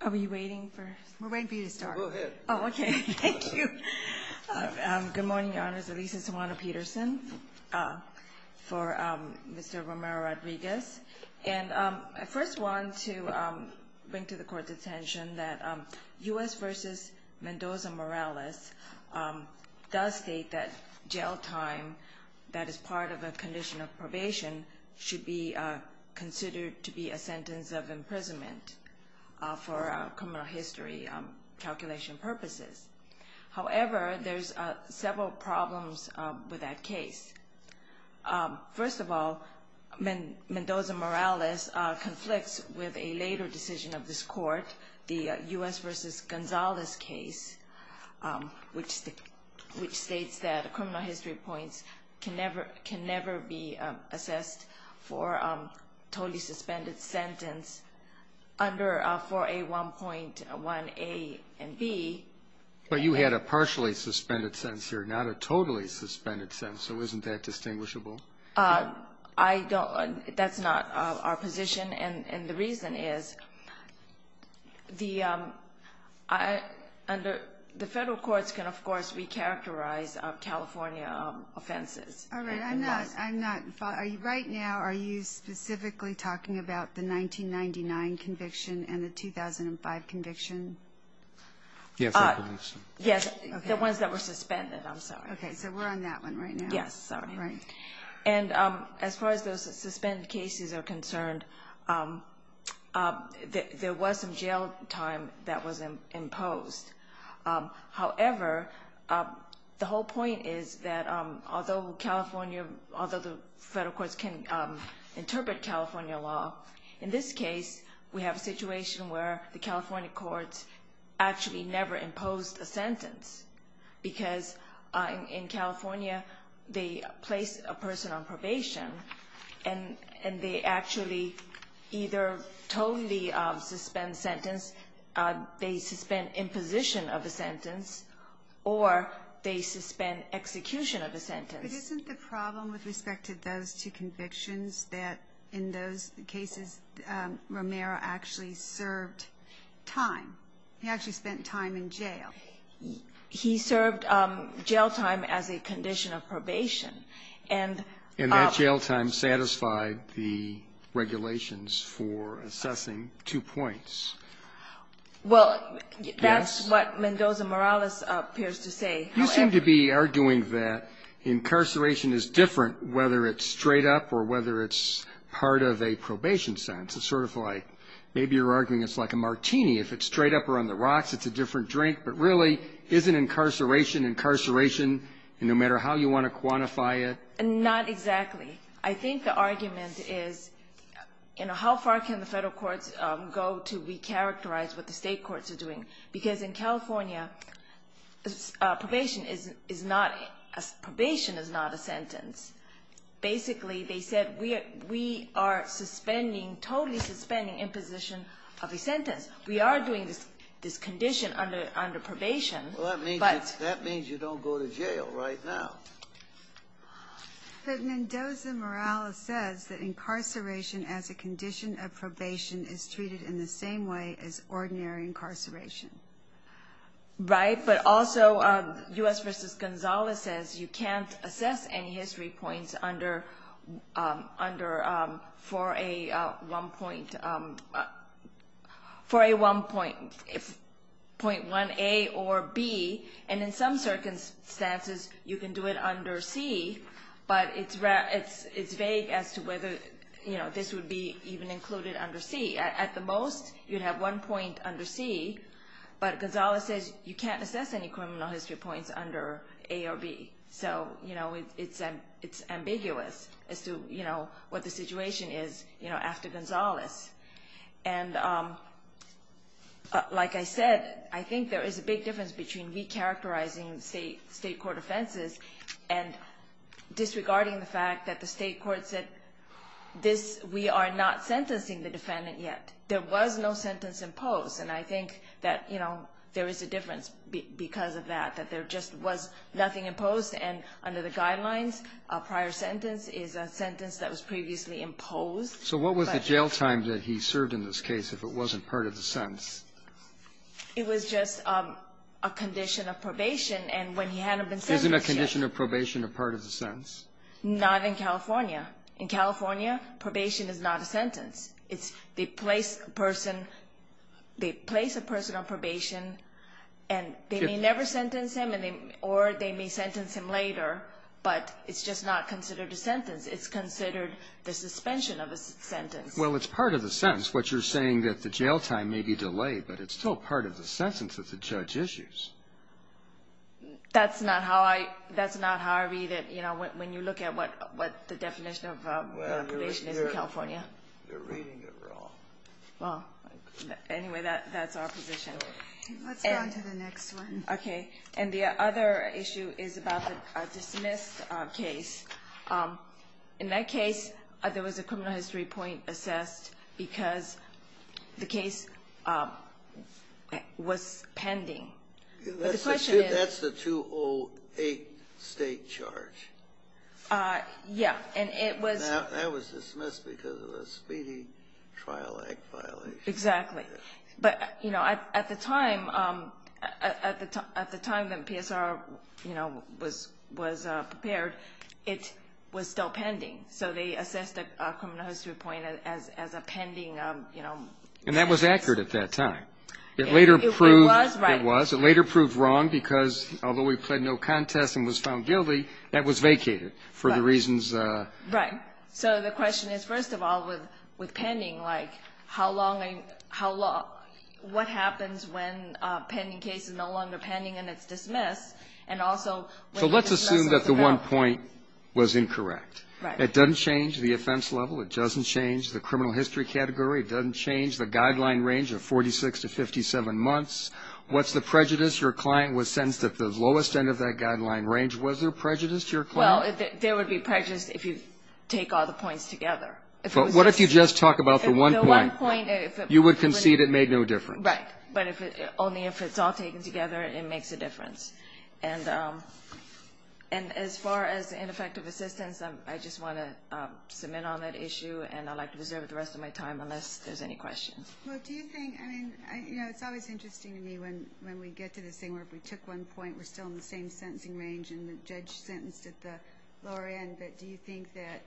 Are we waiting for? We're waiting for you to start. Go ahead. Oh, okay. Thank you. Good morning, Your Honors. Elisa Sawano-Peterson for Mr. Romero-Rodriguez. And I first want to bring to the Court's attention that U.S. v. Mendoza-Morales does state that jail time that is part of a condition of probation should be considered to be a sentence of imprisonment for criminal history calculation purposes. However, there's several problems with that case. First of all, Mendoza-Morales conflicts with a later decision of this Court, the U.S. v. Gonzalez case, which states that criminal history points can never be assessed for a totally suspended sentence under 4A.1.1a and b. But you had a partially suspended sentence here, not a totally suspended sentence, so isn't that distinguishable? That's not our position, and the reason is the federal courts can, of course, recharacterize California offenses. All right. Right now, are you specifically talking about the 1999 conviction and the 2005 conviction? Yes, I believe so. Yes, the ones that were suspended, I'm sorry. Okay, so we're on that one right now. Yes, sorry. Right. And as far as those suspended cases are concerned, there was some jail time that was imposed. However, the whole point is that although the federal courts can interpret California law, in this case, we have a situation where the California courts actually never imposed a sentence because in California they place a person on probation, and they actually either totally suspend sentence, they suspend imposition of a sentence, or they suspend execution of a sentence. But isn't the problem with respect to those two convictions that in those cases Romero actually served time? He actually spent time in jail. He served jail time as a condition of probation. And that jail time satisfied the regulations for assessing two points. Well, that's what Mendoza-Morales appears to say. You seem to be arguing that incarceration is different whether it's straight up or whether it's part of a probation sentence. It's sort of like maybe you're arguing it's like a martini. If it's straight up or on the rocks, it's a different drink. But really, isn't incarceration incarceration no matter how you want to quantify it? Not exactly. I think the argument is, you know, how far can the federal courts go to recharacterize what the State courts are doing? Because in California, probation is not a sentence. Basically, they said we are suspending, totally suspending imposition of a sentence. We are doing this condition under probation. Well, that means you don't go to jail right now. But Mendoza-Morales says that incarceration as a condition of probation is treated in the same way as ordinary incarceration. Right. But also, U.S. v. Gonzales says you can't assess any history points for a one-point, point 1A or B. And in some circumstances, you can do it under C. But it's vague as to whether, you know, this would be even included under C. At the most, you'd have one point under C. But Gonzales says you can't assess any criminal history points under A or B. So, you know, it's ambiguous as to, you know, what the situation is, you know, after Gonzales. And like I said, I think there is a big difference between recharacterizing State court offenses and disregarding the fact that the State court said this, we are not sentencing the defendant yet. There was no sentence imposed. And I think that, you know, there is a difference because of that, that there just was nothing imposed. And under the guidelines, a prior sentence is a sentence that was previously imposed. So what was the jail time that he served in this case if it wasn't part of the sentence? It was just a condition of probation. And when he hadn't been sentenced yet. Isn't a condition of probation a part of the sentence? Not in California. In California, probation is not a sentence. They place a person on probation and they may never sentence him or they may sentence him later. But it's just not considered a sentence. It's considered the suspension of a sentence. Well, it's part of the sentence. That's what you're saying, that the jail time may be delayed, but it's still part of the sentence that the judge issues. That's not how I read it. You know, when you look at what the definition of probation is in California. They're reading it wrong. Well, anyway, that's our position. Let's go on to the next one. Okay. And the other issue is about the dismiss case. In that case, there was a criminal history point assessed because the case was pending. That's the 208 state charge. Yeah, and it was. That was dismissed because of a speeding trial act violation. Exactly. But, you know, at the time, at the time that PSR, you know, was prepared, it was still pending. So they assessed a criminal history point as a pending, you know. And that was accurate at that time. It later proved. It was, right. It was. It later proved wrong because although he pled no contest and was found guilty, that was vacated for the reasons. Right. So the question is, first of all, with pending, like how long, what happens when a pending case is no longer pending and it's dismissed? And also. So let's assume that the one point was incorrect. Right. It doesn't change the offense level. It doesn't change the criminal history category. It doesn't change the guideline range of 46 to 57 months. What's the prejudice? Your client was sentenced at the lowest end of that guideline range. Was there prejudice to your client? Well, there would be prejudice if you take all the points together. But what if you just talk about the one point? The one point. You would concede it made no difference. Right. But only if it's all taken together, it makes a difference. And as far as ineffective assistance, I just want to submit on that issue, and I'd like to reserve the rest of my time unless there's any questions. Well, do you think, I mean, you know, it's always interesting to me when we get to this thing where if we took one point, we're still in the same sentencing range and the judge sentenced at the lower end, but do you think that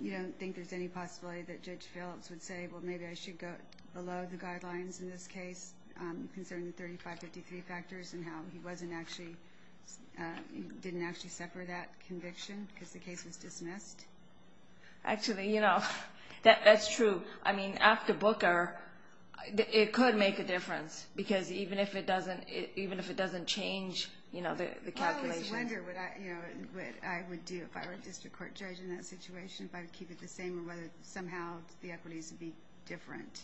you don't think there's any possibility that Judge Phillips would say, well, maybe I should go below the guidelines in this case concerning the 3553 factors and how he didn't actually suffer that conviction because the case was dismissed? Actually, you know, that's true. I mean, after Booker, it could make a difference because even if it doesn't change, you know, the calculation. I always wonder what I would do if I were a district court judge in that situation, if I would keep it the same or whether somehow the equities would be different.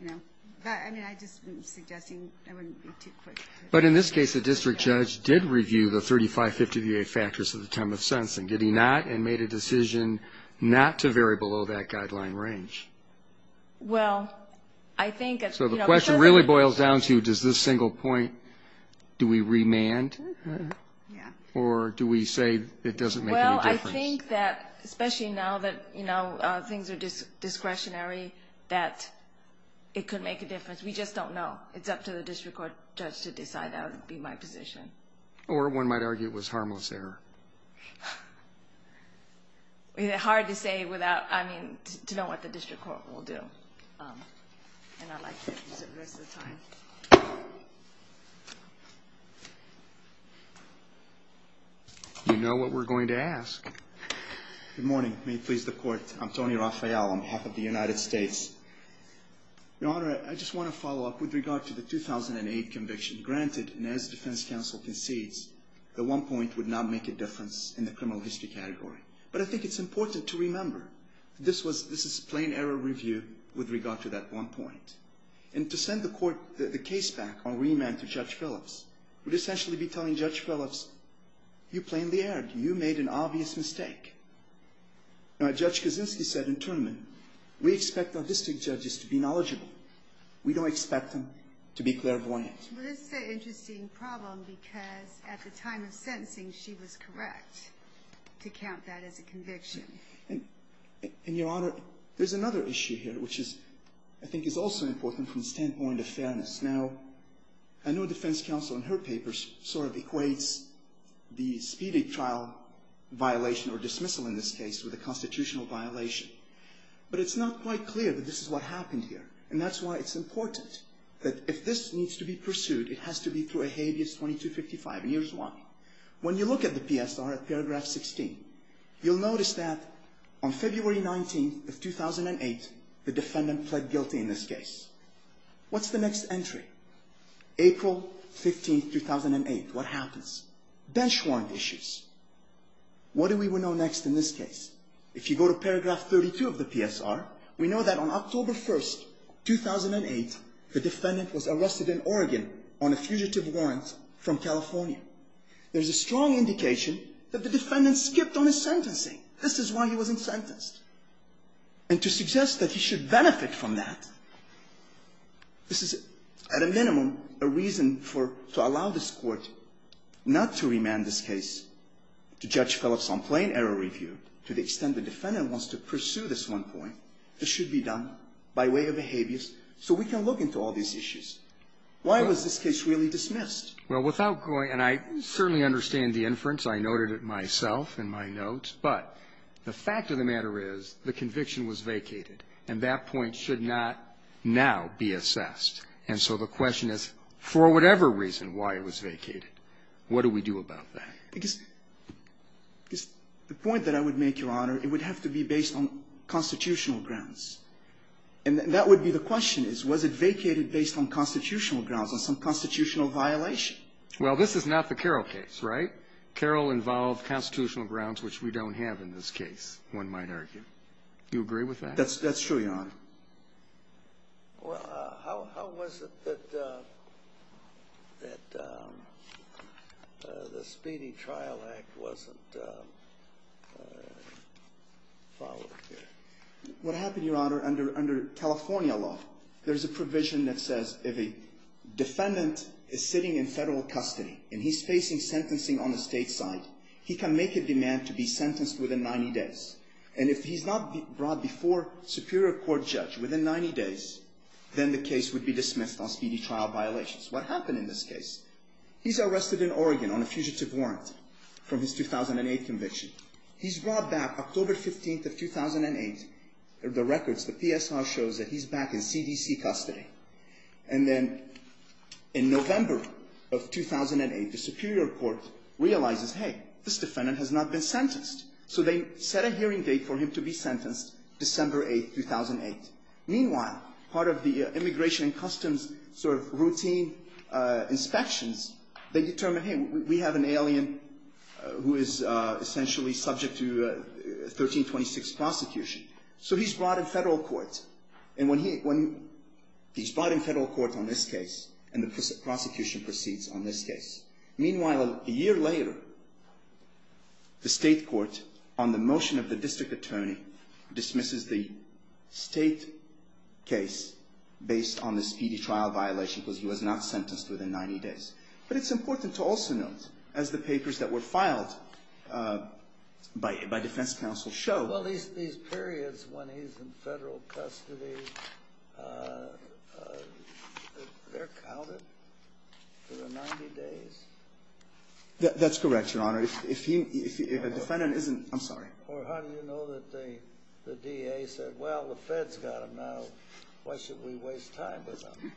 You know, I mean, I'm just suggesting it wouldn't be too quick. But in this case, the district judge did review the 3553 factors of the time of sentencing, did he not, and made a decision not to vary below that guideline range? Well, I think it's, you know. So the question really boils down to does this single point, do we remand? Yeah. Or do we say it doesn't make any difference? Well, I think that especially now that, you know, things are discretionary, that it could make a difference. We just don't know. It's up to the district court judge to decide that would be my position. Or one might argue it was harmless error. It's hard to say without, I mean, to know what the district court will do. And I'd like to reserve the rest of the time. You know what we're going to ask. Good morning. May it please the Court. I'm Tony Rafael on behalf of the United States. Your Honor, I just want to follow up with regard to the 2008 conviction. Granted, and as defense counsel concedes, the one point would not make a difference in the criminal history category. But I think it's important to remember, this is plain error review with regard to that one point. And to send the case back on remand to Judge Phillips would essentially be telling Judge Phillips, you plainly erred. You made an obvious mistake. Now, Judge Kaczynski said in turn, we expect our district judges to be knowledgeable. We don't expect them to be clairvoyant. Well, this is an interesting problem, because at the time of sentencing, she was correct to count that as a conviction. And, Your Honor, there's another issue here, which I think is also important from the standpoint of fairness. Now, I know defense counsel in her papers sort of equates the speedy trial violation or dismissal in this case with a constitutional violation. But it's not quite clear that this is what happened here. And that's why it's important that if this needs to be pursued, it has to be through a habeas 2255. And here's why. When you look at the PSR at paragraph 16, you'll notice that on February 19th of 2008, the defendant pled guilty in this case. What's the next entry? April 15th, 2008. What happens? Bench warrant issues. What do we want to know next in this case? If you go to paragraph 32 of the PSR, we know that on October 1st, 2008, the defendant was arrested in Oregon on a fugitive warrant from California. There's a strong indication that the defendant skipped on his sentencing. This is why he wasn't sentenced. And to suggest that he should benefit from that, this is, at a minimum, a reason for to allow this Court not to remand this case to Judge Phillips on plain error review to the extent the defendant wants to pursue this one point, it should be done by way of a habeas, so we can look into all these issues. Why was this case really dismissed? Well, without going, and I certainly understand the inference. I noted it myself in my notes. But the fact of the matter is the conviction was vacated, and that point should not now be assessed. And so the question is, for whatever reason why it was vacated, what do we do about that? Because the point that I would make, Your Honor, it would have to be based on constitutional grounds. And that would be the question is, was it vacated based on constitutional grounds, on some constitutional violation? Well, this is not the Carroll case, right? Carroll involved constitutional grounds, which we don't have in this case, one might Do you agree with that? That's true, Your Honor. Well, how was it that the Speedy Trial Act wasn't followed here? What happened, Your Honor, under California law, there's a provision that says if a defendant is sitting in Federal custody and he's facing sentencing on the State side, he can make a demand to be sentenced within 90 days. And if he's not brought before a Superior Court judge within 90 days, then the case would be dismissed on speedy trial violations. What happened in this case? He's arrested in Oregon on a fugitive warrant from his 2008 conviction. He's brought back October 15th of 2008. The records, the PSR shows that he's back in CDC custody. And then in November of 2008, the Superior Court realizes, hey, this defendant has not been sentenced. So they set a hearing date for him to be sentenced, December 8th, 2008. Meanwhile, part of the Immigration and Customs sort of routine inspections, they determine, hey, we have an alien who is essentially subject to 1326 prosecution. So he's brought in Federal court. And when he's brought in Federal court on this case, and the prosecution proceeds on this case, Meanwhile, a year later, the State court, on the motion of the District Attorney, dismisses the State case based on this speedy trial violation because he was not sentenced within 90 days. But it's important to also note, as the papers that were filed by defense counsel show, Well, these periods when he's in Federal custody, they're counted for the 90 days? That's correct, Your Honor. If a defendant isn't, I'm sorry. Or how do you know that the DA said, well, the Fed's got him now. Why should we waste time with him?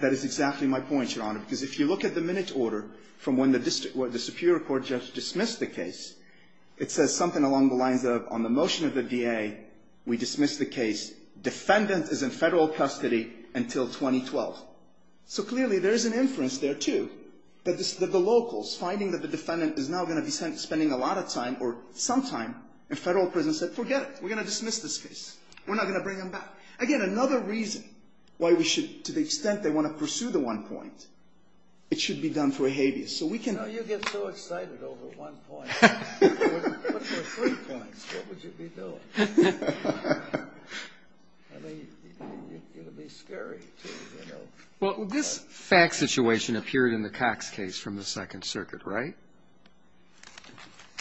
That is exactly my point, Your Honor. Because if you look at the minute order from when the Superior Court just dismissed the case, it says something along the lines of, on the motion of the DA, we dismiss the case. Defendant is in Federal custody until 2012. So clearly there is an inference there, too, that the locals finding that the defendant is now going to be spending a lot of time or some time in Federal prison said, forget it. We're going to dismiss this case. We're not going to bring him back. Again, another reason why we should, to the extent they want to pursue the one point, it should be done through a habeas. You know, you get so excited over one point. What if there were three points? What would you be doing? I mean, it would be scary to, you know. Well, this fact situation appeared in the Cox case from the Second Circuit, right?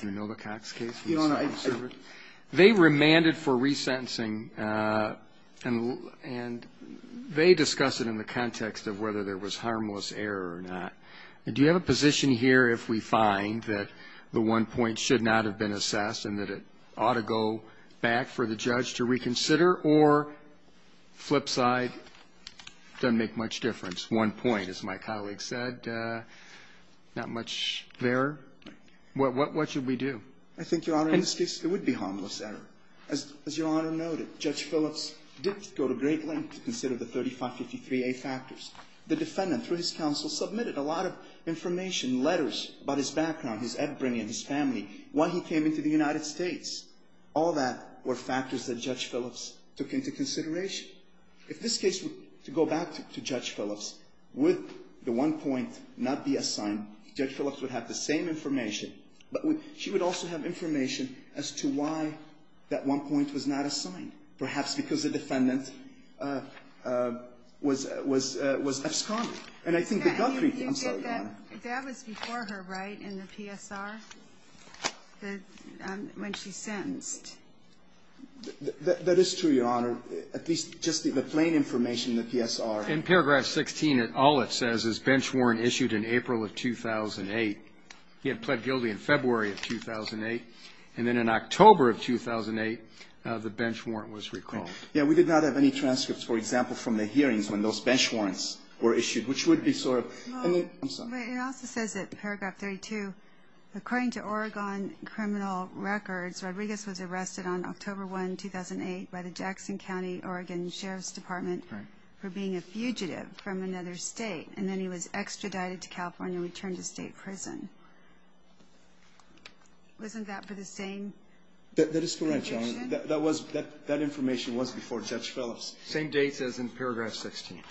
You know the Cox case from the Second Circuit? They remanded for resentencing, and they discussed it in the context of whether there was harmless error or not. Do you have a position here if we find that the one point should not have been assessed and that it ought to go back for the judge to reconsider or, flip side, doesn't make much difference? One point, as my colleague said, not much there. What should we do? I think, Your Honor, in this case it would be harmless error. As Your Honor noted, Judge Phillips did go to great lengths to consider the 3553A factors. The defendant, through his counsel, submitted a lot of information, letters about his background, his upbringing, his family, why he came into the United States. All that were factors that Judge Phillips took into consideration. If this case were to go back to Judge Phillips, would the one point not be assigned, Judge Phillips would have the same information, but she would also have information as to why that one point was not assigned. Perhaps because the defendant was F. Sconnell. And I think that got creepy. I'm sorry, Your Honor. That was before her, right, in the PSR, when she sentenced? That is true, Your Honor. At least just the plain information in the PSR. In paragraph 16, all it says is bench warrant issued in April of 2008. He had pled guilty in February of 2008. And then in October of 2008, the bench warrant was recalled. Yeah, we did not have any transcripts, for example, from the hearings when those bench warrants were issued, which would be sort of. I'm sorry. It also says in paragraph 32, according to Oregon criminal records, Rodriguez was arrested on October 1, 2008, by the Jackson County Oregon Sheriff's Department for being a fugitive from another state. And then he was extradited to California and returned to state prison. Wasn't that for the same conviction? That is correct, Your Honor. That was, that information was before Judge Phillips. Same dates as in paragraph 16.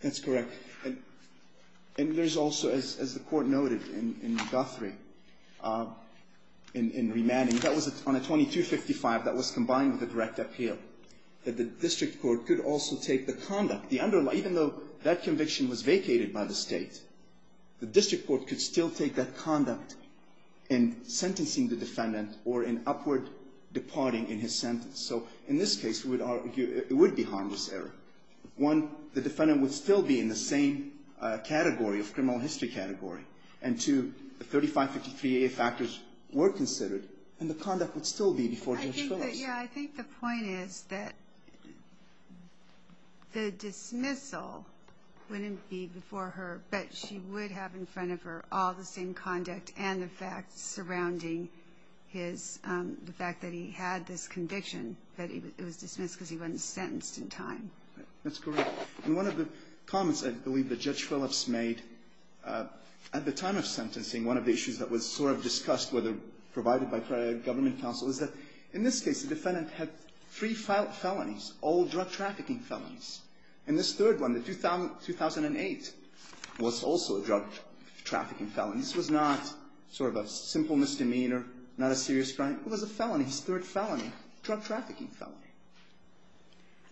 That's correct. And there's also, as the Court noted in Guthrie, in remanding, that was on a 2255 that was combined with a direct appeal, that the district court could also take the conduct, the underlying, even though that conviction was vacated by the State, the district court could still take that conduct in sentencing the defendant or in upward departing in his sentence. So in this case, it would be harmless error. One, the defendant would still be in the same category of criminal history category, and two, the 3553A factors were considered, and the conduct would still be before Judge Phillips. I think that, yeah, I think the point is that the dismissal wouldn't be before her, but she would have in front of her all the same conduct and the facts surrounding his, the fact that he had this conviction, that it was dismissed because he wasn't sentenced in time. That's correct. And one of the comments I believe that Judge Phillips made at the time of sentencing, one of the issues that was sort of discussed, whether provided by prior government counsel, is that in this case, the defendant had three felonies, all drug trafficking felonies. And this third one, the 2008, was also a drug trafficking felony. This was not sort of a simple misdemeanor, not a serious crime. It was a felony, his third felony, drug trafficking felony.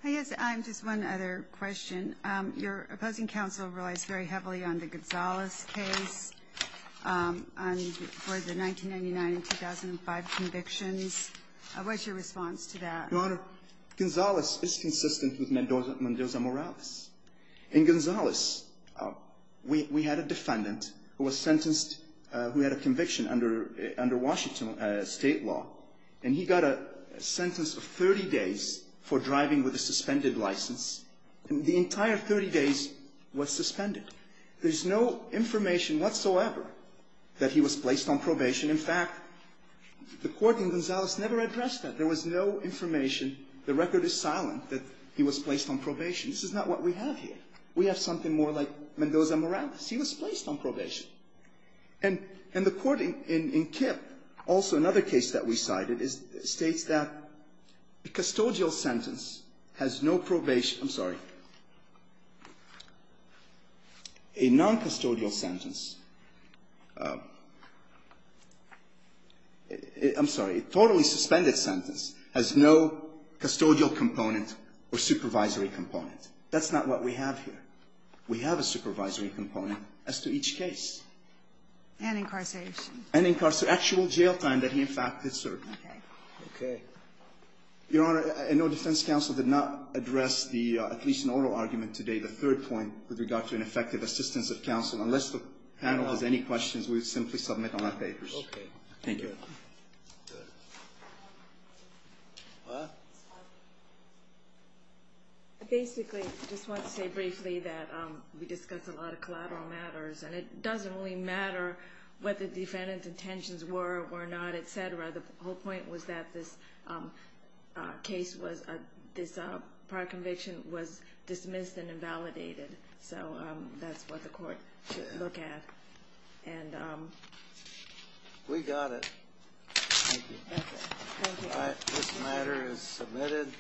I guess I have just one other question. Your opposing counsel relies very heavily on the Gonzales case for the 1999 and 2005 convictions. What's your response to that? Your Honor, Gonzales is consistent with Mendoza Morales. In Gonzales, we had a defendant who was sentenced, who had a conviction under Washington state law, and he got a sentence of 30 days for driving with a suspended license. The entire 30 days was suspended. There's no information whatsoever that he was placed on probation. In fact, the court in Gonzales never addressed that. There was no information. The record is silent that he was placed on probation. This is not what we have here. We have something more like Mendoza Morales. He was placed on probation. And the court in Kip, also another case that we cited, states that a custodial sentence has no probation. I'm sorry. A noncustodial sentence. I'm sorry. A totally suspended sentence has no custodial component or supervisory component. That's not what we have here. We have a supervisory component as to each case. And incarceration. And incarceration. Actual jail time that he, in fact, had served. Okay. Your Honor, I know defense counsel did not address the, at least in oral argument today, the third point with regard to an effective assistance of counsel. Unless the panel has any questions, we simply submit on our papers. Okay. Thank you. I basically just want to say briefly that we discussed a lot of collateral matters. And it doesn't really matter what the defendant's intentions were or were not, et cetera. The whole point was that this case was, this prior conviction was dismissed and invalidated. So that's what the court should look at. We got it. Thank you. This matter is submitted.